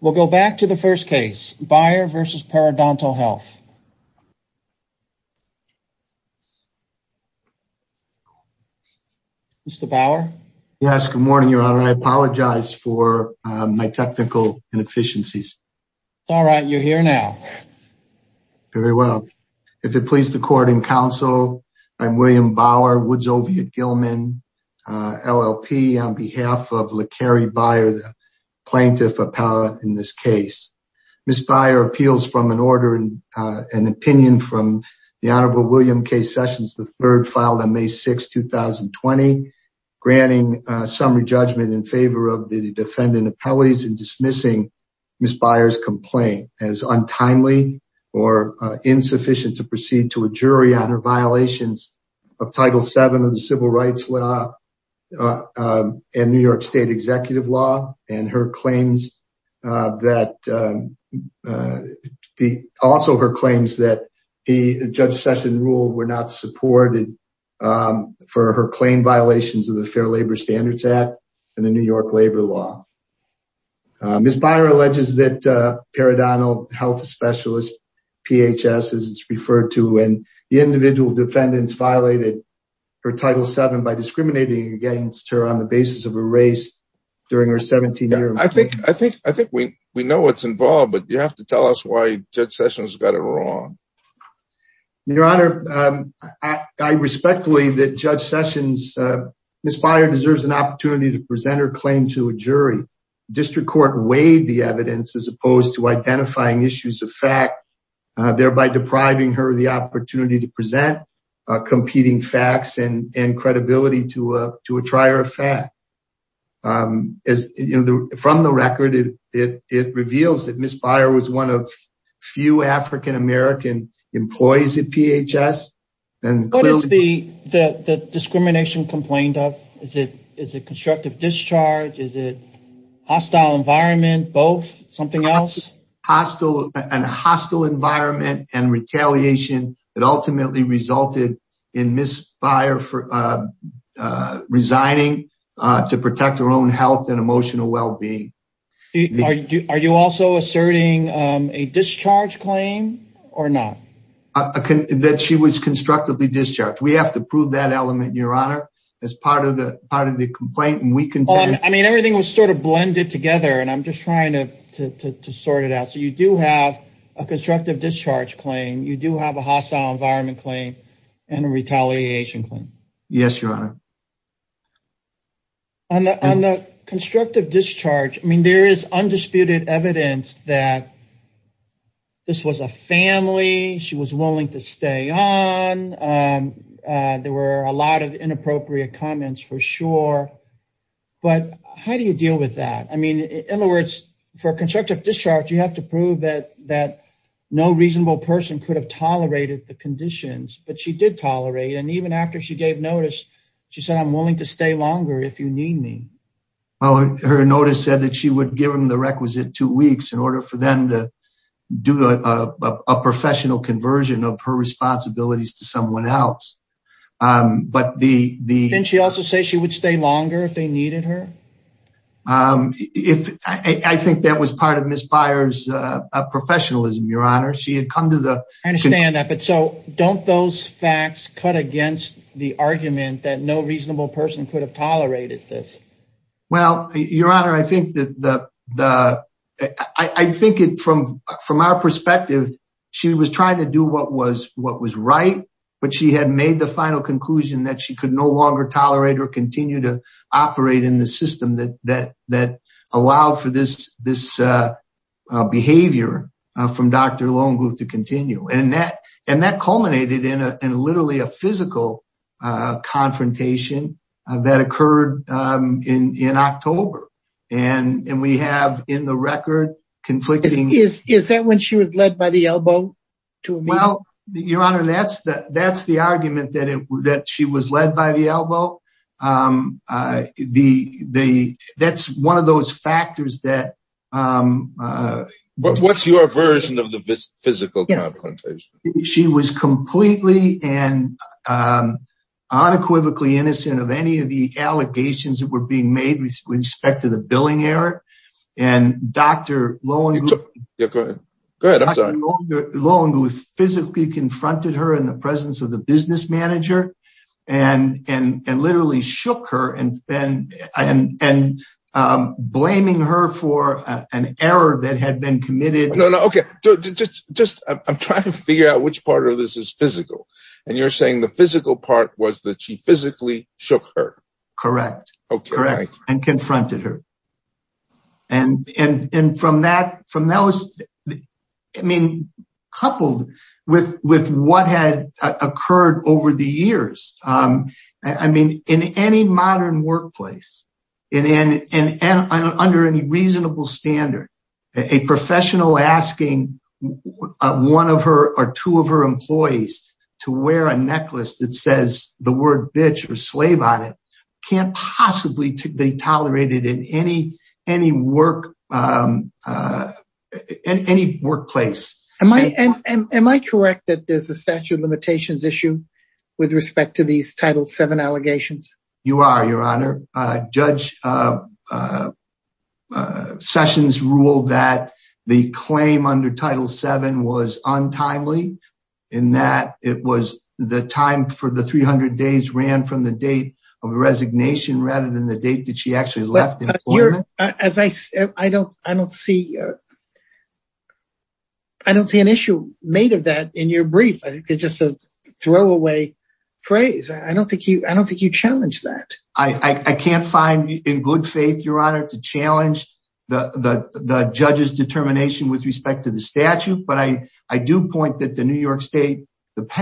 We'll go back to the first case, Bauer v. Periodontal Health. Mr. Bauer? Yes, good morning, Your Honor. I apologize for my technical inefficiencies. It's all right. You're here now. Very well. If it pleases the court and counsel, I'm William Bauer, Woods Oviatt-Gilman, LLP, on behalf of La'Kerri Bauer, the plaintiff appellate in this case. Ms. Bauer appeals from an order, an opinion, from the Honorable William K. Sessions III, filed on May 6, 2020, granting summary judgment in favor of the defendant appellees and dismissing Ms. Bauer's complaint as untimely or insufficient to proceed to a jury on her violations of Title VII of the Civil Rights Law and New York State Executive Law and also her claims that Judge Session ruled were not supported for her claim violations of the Fair Labor Standards Act and the New York Labor Law. Ms. Bauer alleges that periodontal health specialist, PHS, as it's referred to, and the individual defendants violated her Title VII by discriminating against her on the basis of a race during her 17-year... I think we know what's involved, but you have to tell us why Judge Sessions got it wrong. Your Honor, I respectfully that Judge Sessions... District Court weighed the evidence as opposed to identifying issues of fact, thereby depriving her of the opportunity to present competing facts and credibility to a trier of fact. From the record, it reveals that Ms. Bauer was one of few African-American employees at PHS. What is the discrimination complained of? Is it constructive discharge? Is it hostile environment, both, something else? Hostile environment and retaliation that ultimately resulted in Ms. Bauer resigning to protect her own health and emotional well-being. Are you also asserting a discharge claim or not? That she was constructively discharged. We have to prove that element, Your Honor, as part of the complaint. Everything was sort of blended together, and I'm just trying to sort it out. You do have a constructive discharge claim. You do have a hostile environment claim and a retaliation claim. Yes, Your Honor. On the constructive discharge, there is undisputed evidence that this was a family, she was willing to stay on. There were a lot of inappropriate comments for sure. But how do you deal with that? I mean, in other words, for constructive discharge, you have to prove that no reasonable person could have tolerated the conditions, but she did tolerate. And even after she gave notice, she said, I'm willing to stay longer if you need me. Well, her notice said that she would give him the requisite two weeks in order for them to do a professional conversion of her responsibilities to someone else. Didn't she also say she would stay longer if they needed her? I think that was part of Ms. Byers' professionalism, Your Honor. I understand that, but so don't those facts cut against the argument that no reasonable person could have tolerated this? Well, Your Honor, I think from our perspective, she was trying to do what was right, but she had made the final conclusion that she could no longer tolerate or continue to operate in the system that allowed for this behavior from Dr. Lonegooth to continue. And that culminated in literally a physical confrontation that occurred in October. And we have in the record conflicting... Is that when she was led by the elbow to a meeting? Well, Your Honor, that's the argument that she was led by the elbow. That's one of those factors that... What's your version of the physical confrontation? She was completely and unequivocally innocent of any of the allegations that were being made with respect to the billing error. And Dr. Lonegooth physically confronted her in the presence of the business manager and literally shook her and blaming her for an error that had been committed. No, no. Okay. I'm trying to figure out which part of this is physical. And you're saying the physical part was that she physically shook her? Correct. And confronted her. And from that... I mean, coupled with what had occurred over the years. I mean, in any modern workplace and under any reasonable standard, a professional asking one of her or two of her employees to wear a necklace that says the word bitch or slave on it can't possibly be tolerated in any workplace. Am I correct that there's a statute of limitations issue with respect to these Title VII allegations? You are, Your Honor. Judge Sessions ruled that the claim under Title VII was untimely in that it was the time for the 300 days ran from the date of resignation rather than the date that she actually left employment. I don't see an issue made of that in your brief. It's just a throwaway phrase. I don't think you challenge that. I can't find in good faith, Your Honor, to challenge the judge's determination with respect to the statute. But I do point that the New York State...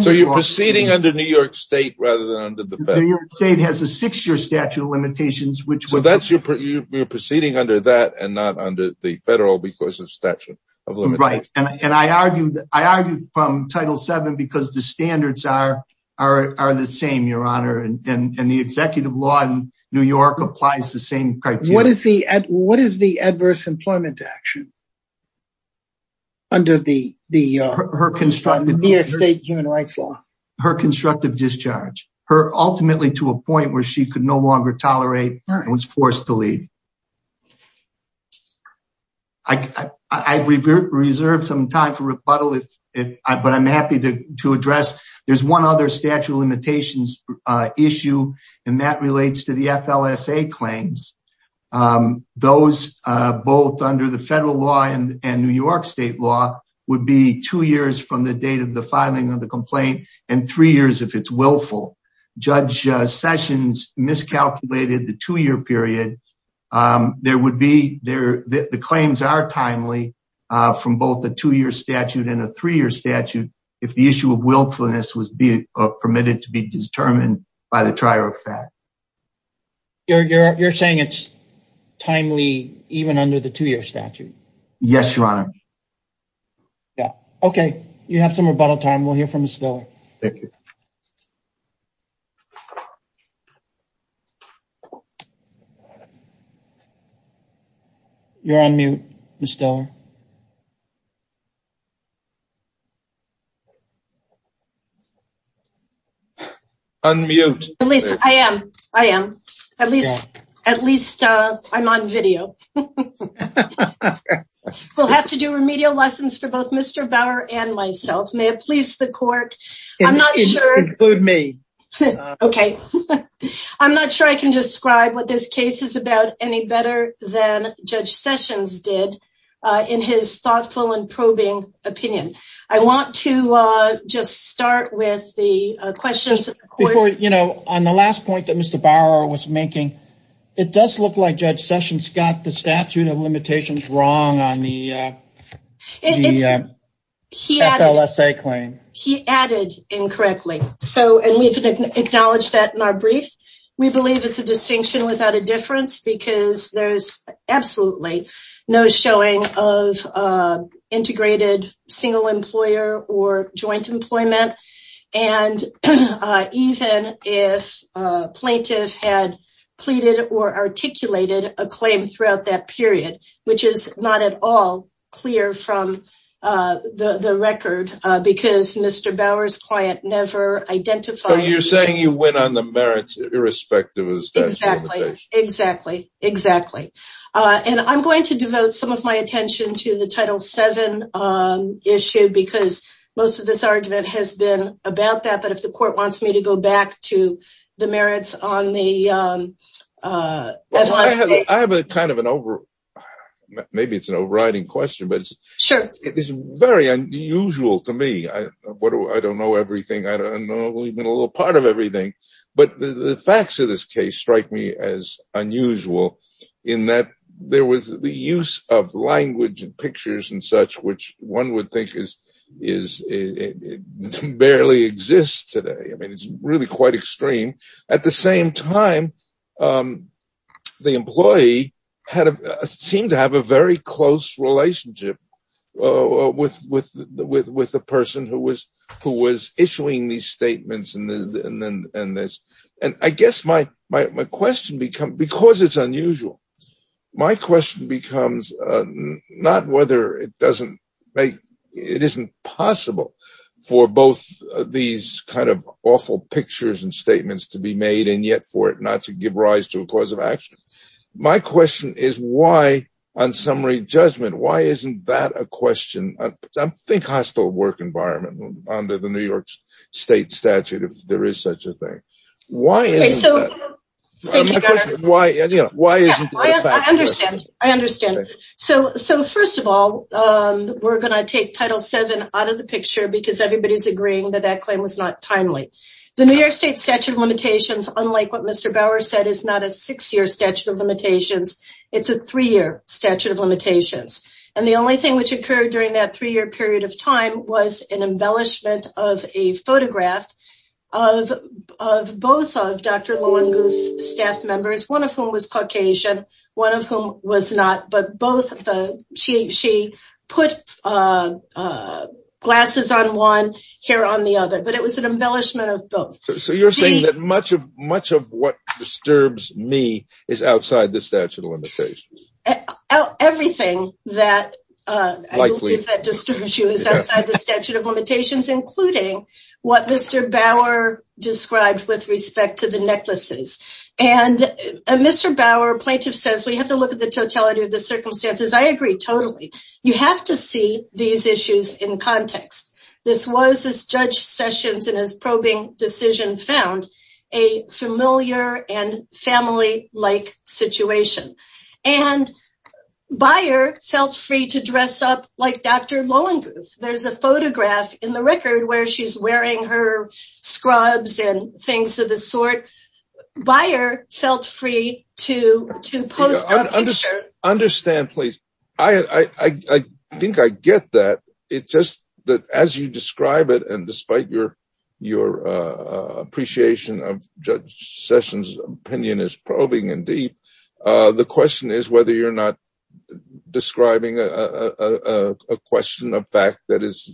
So you're proceeding under New York State rather than under the federal? New York State has a six-year statute of limitations, which... So you're proceeding under that and not under the federal because of statute of limitations? Right. And I argue from Title VII because the standards are the same, Your Honor. And the executive law in New York applies the same criteria. What is the adverse employment action under the New York State human rights law? Her constructive discharge, her ultimately to a point where she could no longer tolerate and was forced to leave. I reserve some time for rebuttal, but I'm happy to address. There's one other statute of limitations issue, and that relates to the FLSA claims. Those both under the federal law and New York State law would be two years from the date of the filing of the complaint and three years if it's willful. Judge Sessions miscalculated the two-year period. The claims are timely from both the two-year statute and a three-year statute if the issue of willfulness was permitted to be determined by the trier of fact. You're saying it's timely even under the two-year statute? Yes, Your Honor. Okay. You have some rebuttal time. We'll hear from Mr. Diller. Thank you. You're on mute, Mr. Diller. Unmute. At least I am. I am. At least I'm on video. We'll have to do remedial lessons for both Mr. Bauer and myself. May it please the court. Include me. Okay. I'm not sure I can describe what this case is about any better than Judge Sessions did in his thoughtful and probing opinion. I want to just start with the questions. Before, you know, on the last point that Mr. Bauer was making, it does look like Judge Sessions got the statute of limitations wrong on the FLSA claim. He added incorrectly. And we've acknowledged that in our brief. We believe it's a distinction without a difference because there's absolutely no showing of integrated single employer or joint employment. And even if a plaintiff had pleaded or articulated a claim throughout that period, which is not at all clear from the record because Mr. Bauer's client never identified. You're saying you went on the merits irrespective of the statute of limitations. Exactly. Exactly. And I'm going to devote some of my attention to the title seven issue because most of this argument has been about that. But if the court wants me to go back to the merits on the. I have a kind of an over maybe it's an overriding question, but it's very unusual to me. I don't know everything. I don't know. We've been a little part of everything. But the facts of this case strike me as unusual in that there was the use of language and pictures and such, which one would think is is it barely exists today? I mean, it's really quite extreme. At the same time, the employee had seemed to have a very close relationship with with with with the person who was who was issuing these statements. And I guess my my question become because it's unusual. My question becomes not whether it doesn't make it isn't possible for both these kind of awful pictures and statements to be made and yet for it not to give rise to a cause of action. My question is why on summary judgment, why isn't that a question? I think hostile work environment under the New York State statute, if there is such a thing. Why is why? Why isn't I understand? I understand. So so first of all, we're going to take title seven out of the picture because everybody's agreeing that that claim was not timely. The New York State statute of limitations, unlike what Mr. Bauer said, is not a six year statute of limitations. It's a three year statute of limitations. And the only thing which occurred during that three year period of time was an embellishment of a photograph of of both of Dr. One of whom was not. But both she she put glasses on one here on the other. But it was an embellishment of both. So you're saying that much of much of what disturbs me is outside the statute of limitations. Everything that I believe that disturbs you is outside the statute of limitations, including what Mr. Bauer described with respect to the necklaces. And Mr. Bauer plaintiff says we have to look at the totality of the circumstances. I agree totally. You have to see these issues in context. This was this judge sessions in his probing decision found a familiar and family like situation. And Bayer felt free to dress up like Dr. Low and there's a photograph in the record where she's wearing her scrubs and things of the sort. Bayer felt free to to understand, please. I think I get that. It's just that as you describe it. And despite your your appreciation of Judge Sessions opinion is probing and deep. The question is whether you're not describing a question of fact that is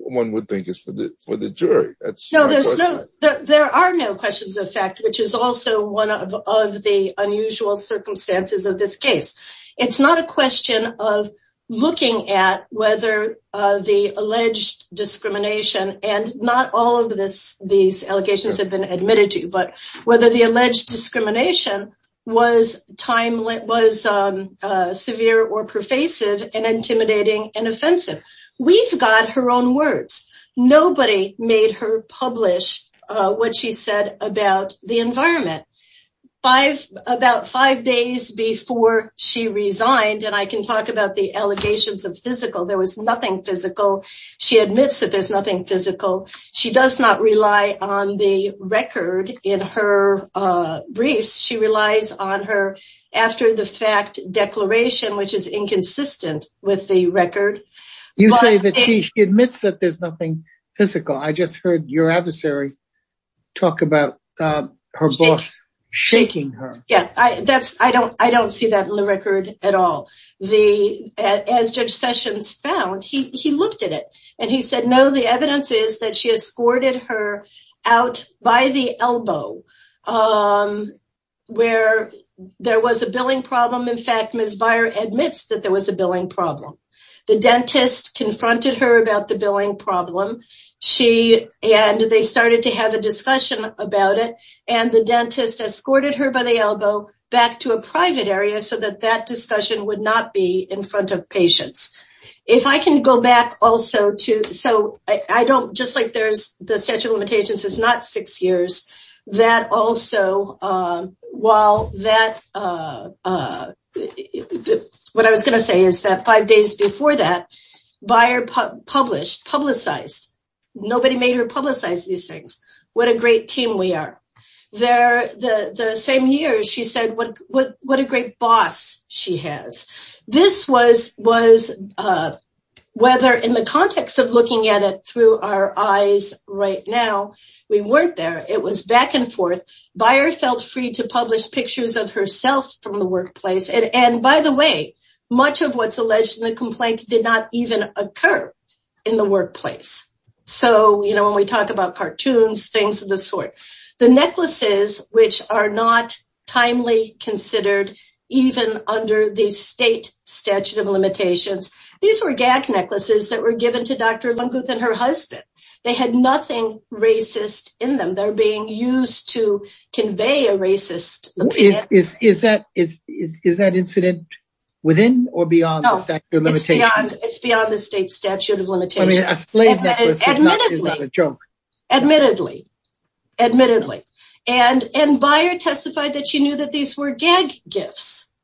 one would think is for the for the jury. No, there's no there are no questions of fact, which is also one of the unusual circumstances of this case. It's not a question of looking at whether the alleged discrimination and not all of this. These allegations have been admitted to you, but whether the alleged discrimination was timely, was severe or pervasive and intimidating and offensive. We've got her own words. Nobody made her publish what she said about the environment five about five days before she resigned. And I can talk about the allegations of physical. There was nothing physical. She admits that there's nothing physical. She does not rely on the record in her briefs. She relies on her after the fact declaration, which is inconsistent with the record. You say that she admits that there's nothing physical. I just heard your adversary talk about her boss shaking her. Yeah, I that's I don't I don't see that in the record at all. As Judge Sessions found, he looked at it and he said, no, the evidence is that she escorted her out by the elbow where there was a billing problem. In fact, Ms. Byer admits that there was a billing problem. The dentist confronted her about the billing problem. She and they started to have a discussion about it. And the dentist escorted her by the elbow back to a private area so that that discussion would not be in front of patients. If I can go back also to so I don't just like there's the statute of limitations. It's not six years that also while that what I was going to say is that five days before that, Byer published publicized. Nobody made her publicize these things. What a great team we are there. The same year, she said, what a great boss she has. This was was whether in the context of looking at it through our eyes right now, we weren't there. It was back and forth. Byer felt free to publish pictures of herself from the workplace. And by the way, much of what's alleged in the complaint did not even occur in the workplace. So, you know, when we talk about cartoons, things of the sort, the necklaces, which are not timely considered, even under the state statute of limitations. These were gag necklaces that were given to Dr. Lunguth and her husband. They had nothing racist in them. They're being used to convey a racist opinion. Is that incident within or beyond the statute of limitations? It's beyond the state statute of limitations. Admittedly, admittedly, admittedly. And Byer testified that she knew that these were gag gifts.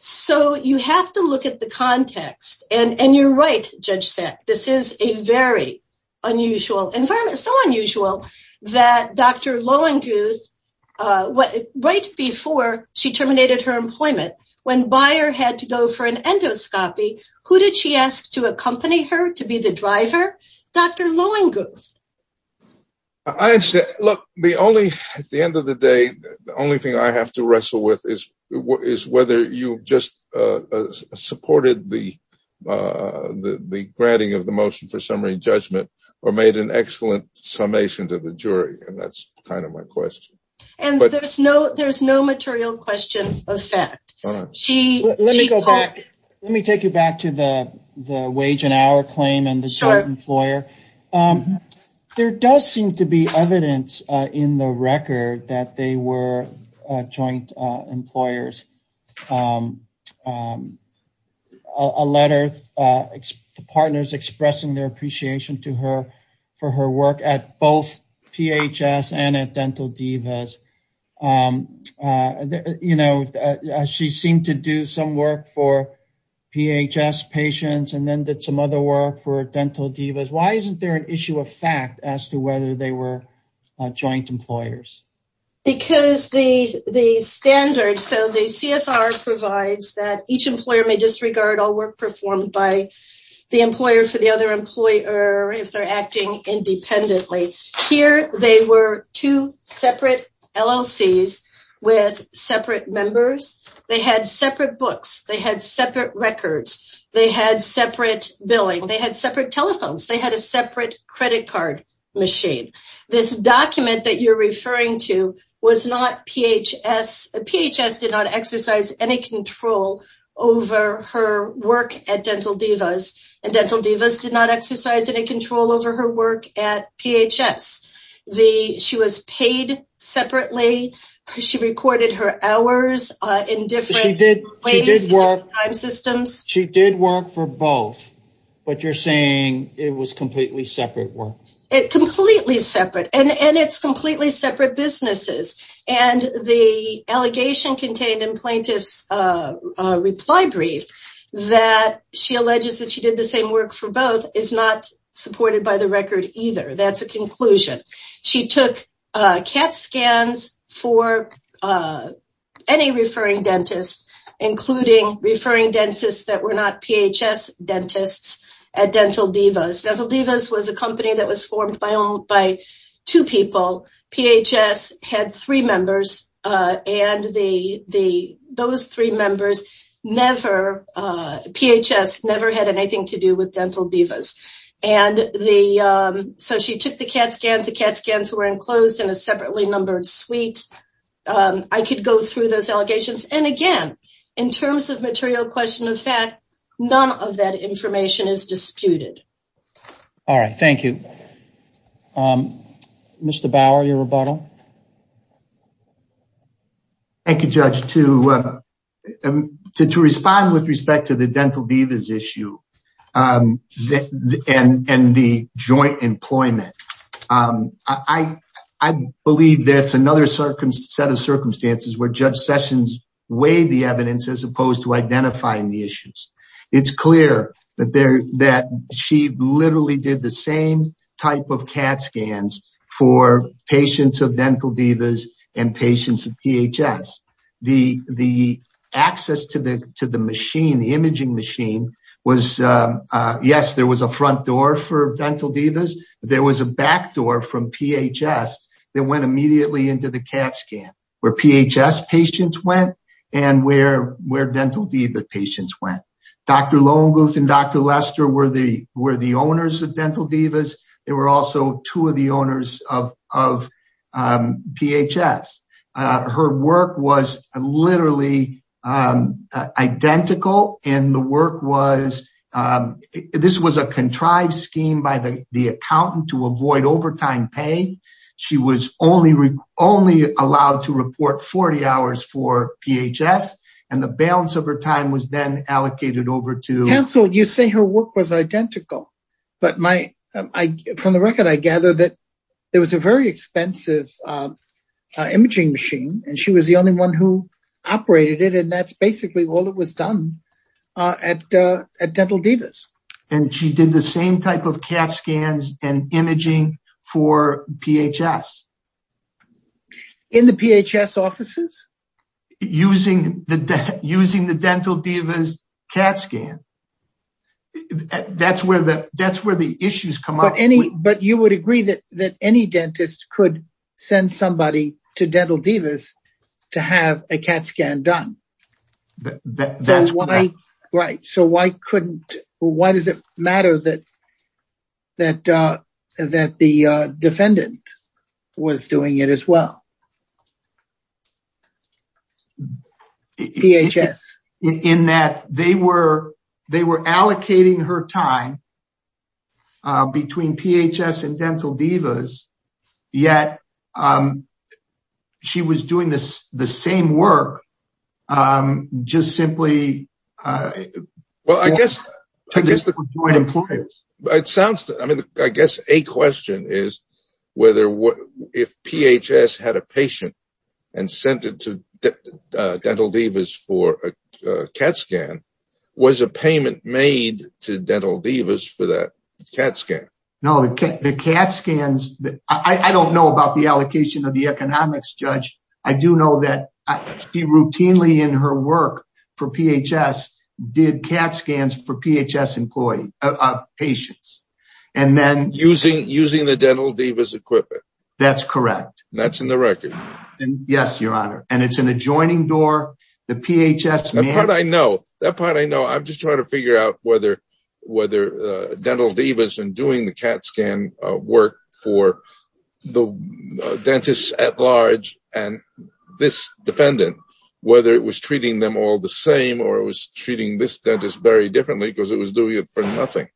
So you have to look at the context. And you're right, Judge Sack, this is a very unusual environment. So unusual that Dr. Lunguth, right before she terminated her employment, when Byer had to go for an endoscopy, who did she ask to accompany her to be the driver? Dr. Lunguth. I said, look, the only at the end of the day, the only thing I have to wrestle with is, is whether you just supported the the granting of the motion for summary judgment or made an excellent summation to the jury. And that's kind of my question. And there's no there's no material question of fact. Let me go back. Let me take you back to the the wage and hour claim and the short employer. There does seem to be evidence in the record that they were joint employers. A letter, partners expressing their appreciation to her for her work at both PHS and at Dental Divas. You know, she seemed to do some work for PHS patients and then did some other work for Dental Divas. Why isn't there an issue of fact as to whether they were joint employers? Because the the standard. So the CFR provides that each employer may disregard all work performed by the employer for the other employer. If they're acting independently here, they were two separate LLCs with separate members. They had separate books. They had separate records. They had separate billing. They had separate telephones. They had a separate credit card machine. This document that you're referring to was not PHS. PHS did not exercise any control over her work at Dental Divas and Dental Divas did not exercise any control over her work at PHS. She was paid separately. She recorded her hours in different ways, different time systems. She did work for both. But you're saying it was completely separate work. Completely separate. And it's completely separate businesses. And the allegation contained in plaintiff's reply brief that she alleges that she did the same work for both is not supported by the record either. That's a conclusion. She took CAT scans for any referring dentist, including referring dentists that were not PHS dentists at Dental Divas. Dental Divas was a company that was formed by two people. PHS had three members and those three members never, PHS never had anything to do with Dental Divas. And so she took the CAT scans. The CAT scans were enclosed in a separately numbered suite. I could go through those allegations. And again, in terms of material question of fact, none of that information is disputed. All right. Thank you. Mr. Bauer, your rebuttal. Thank you, Judge. To respond with respect to the Dental Divas issue and the joint employment, I believe that's another set of circumstances where Judge Sessions weighed the evidence as opposed to identifying the issues. It's clear that there that she literally did the same type of CAT scans for patients of Dental Divas and patients of PHS. The the access to the to the machine, the imaging machine was, yes, there was a front door for Dental Divas. There was a back door from PHS that went immediately into the CAT scan where PHS patients went and where where Dental Divas patients went. Dr. Lonegooth and Dr. Lester were the were the owners of Dental Divas. They were also two of the owners of of PHS. Her work was literally identical. And the work was this was a contrived scheme by the accountant to avoid overtime pay. She was only only allowed to report 40 hours for PHS. And the balance of her time was then allocated over to counsel. You say her work was identical. But my from the record, I gather that there was a very expensive imaging machine and she was the only one who operated it. And that's basically all that was done at at Dental Divas. And she did the same type of CAT scans and imaging for PHS. In the PHS offices? Using the using the Dental Divas CAT scan. That's where the that's where the issues come up. Any but you would agree that that any dentist could send somebody to Dental Divas to have a CAT scan done. That's why. Right. So why couldn't. Why does it matter that that that the defendant was doing it as well? PHS in that they were they were allocating her time between PHS and Dental Divas. Yet she was doing this. The same work just simply. Well, I guess I guess the point it sounds. I mean, I guess a question is whether if PHS had a patient and sent it to Dental Divas for a CAT scan, was a payment made to Dental Divas for that CAT scan? No, the CAT scans that I don't know about the allocation of the economics judge. I do know that I be routinely in her work for PHS did CAT scans for PHS employee patients. And then using using the Dental Divas equipment. That's correct. That's in the record. Yes, your honor. And it's an adjoining door. The PHS. I know that part. I know. I'm just trying to figure out whether whether Dental Divas and doing the CAT scan work for the dentist at large. And this defendant, whether it was treating them all the same or was treating this dentist very differently because it was doing it for nothing.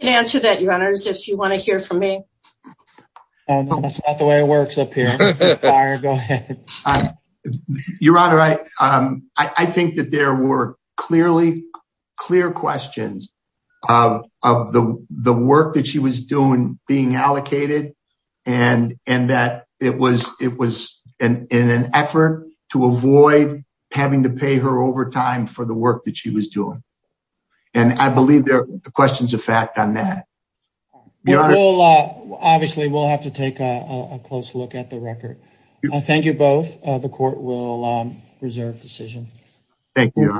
Answer that, your honor, if you want to hear from me. That's not the way it works up here. Your honor, I think that there were clearly clear questions of the work that she was doing, being allocated. And and that it was it was in an effort to avoid having to pay her overtime for the work that she was doing. And I believe there are questions of fact on that. Obviously, we'll have to take a close look at the record. Thank you both. The court will reserve decision. Thank you.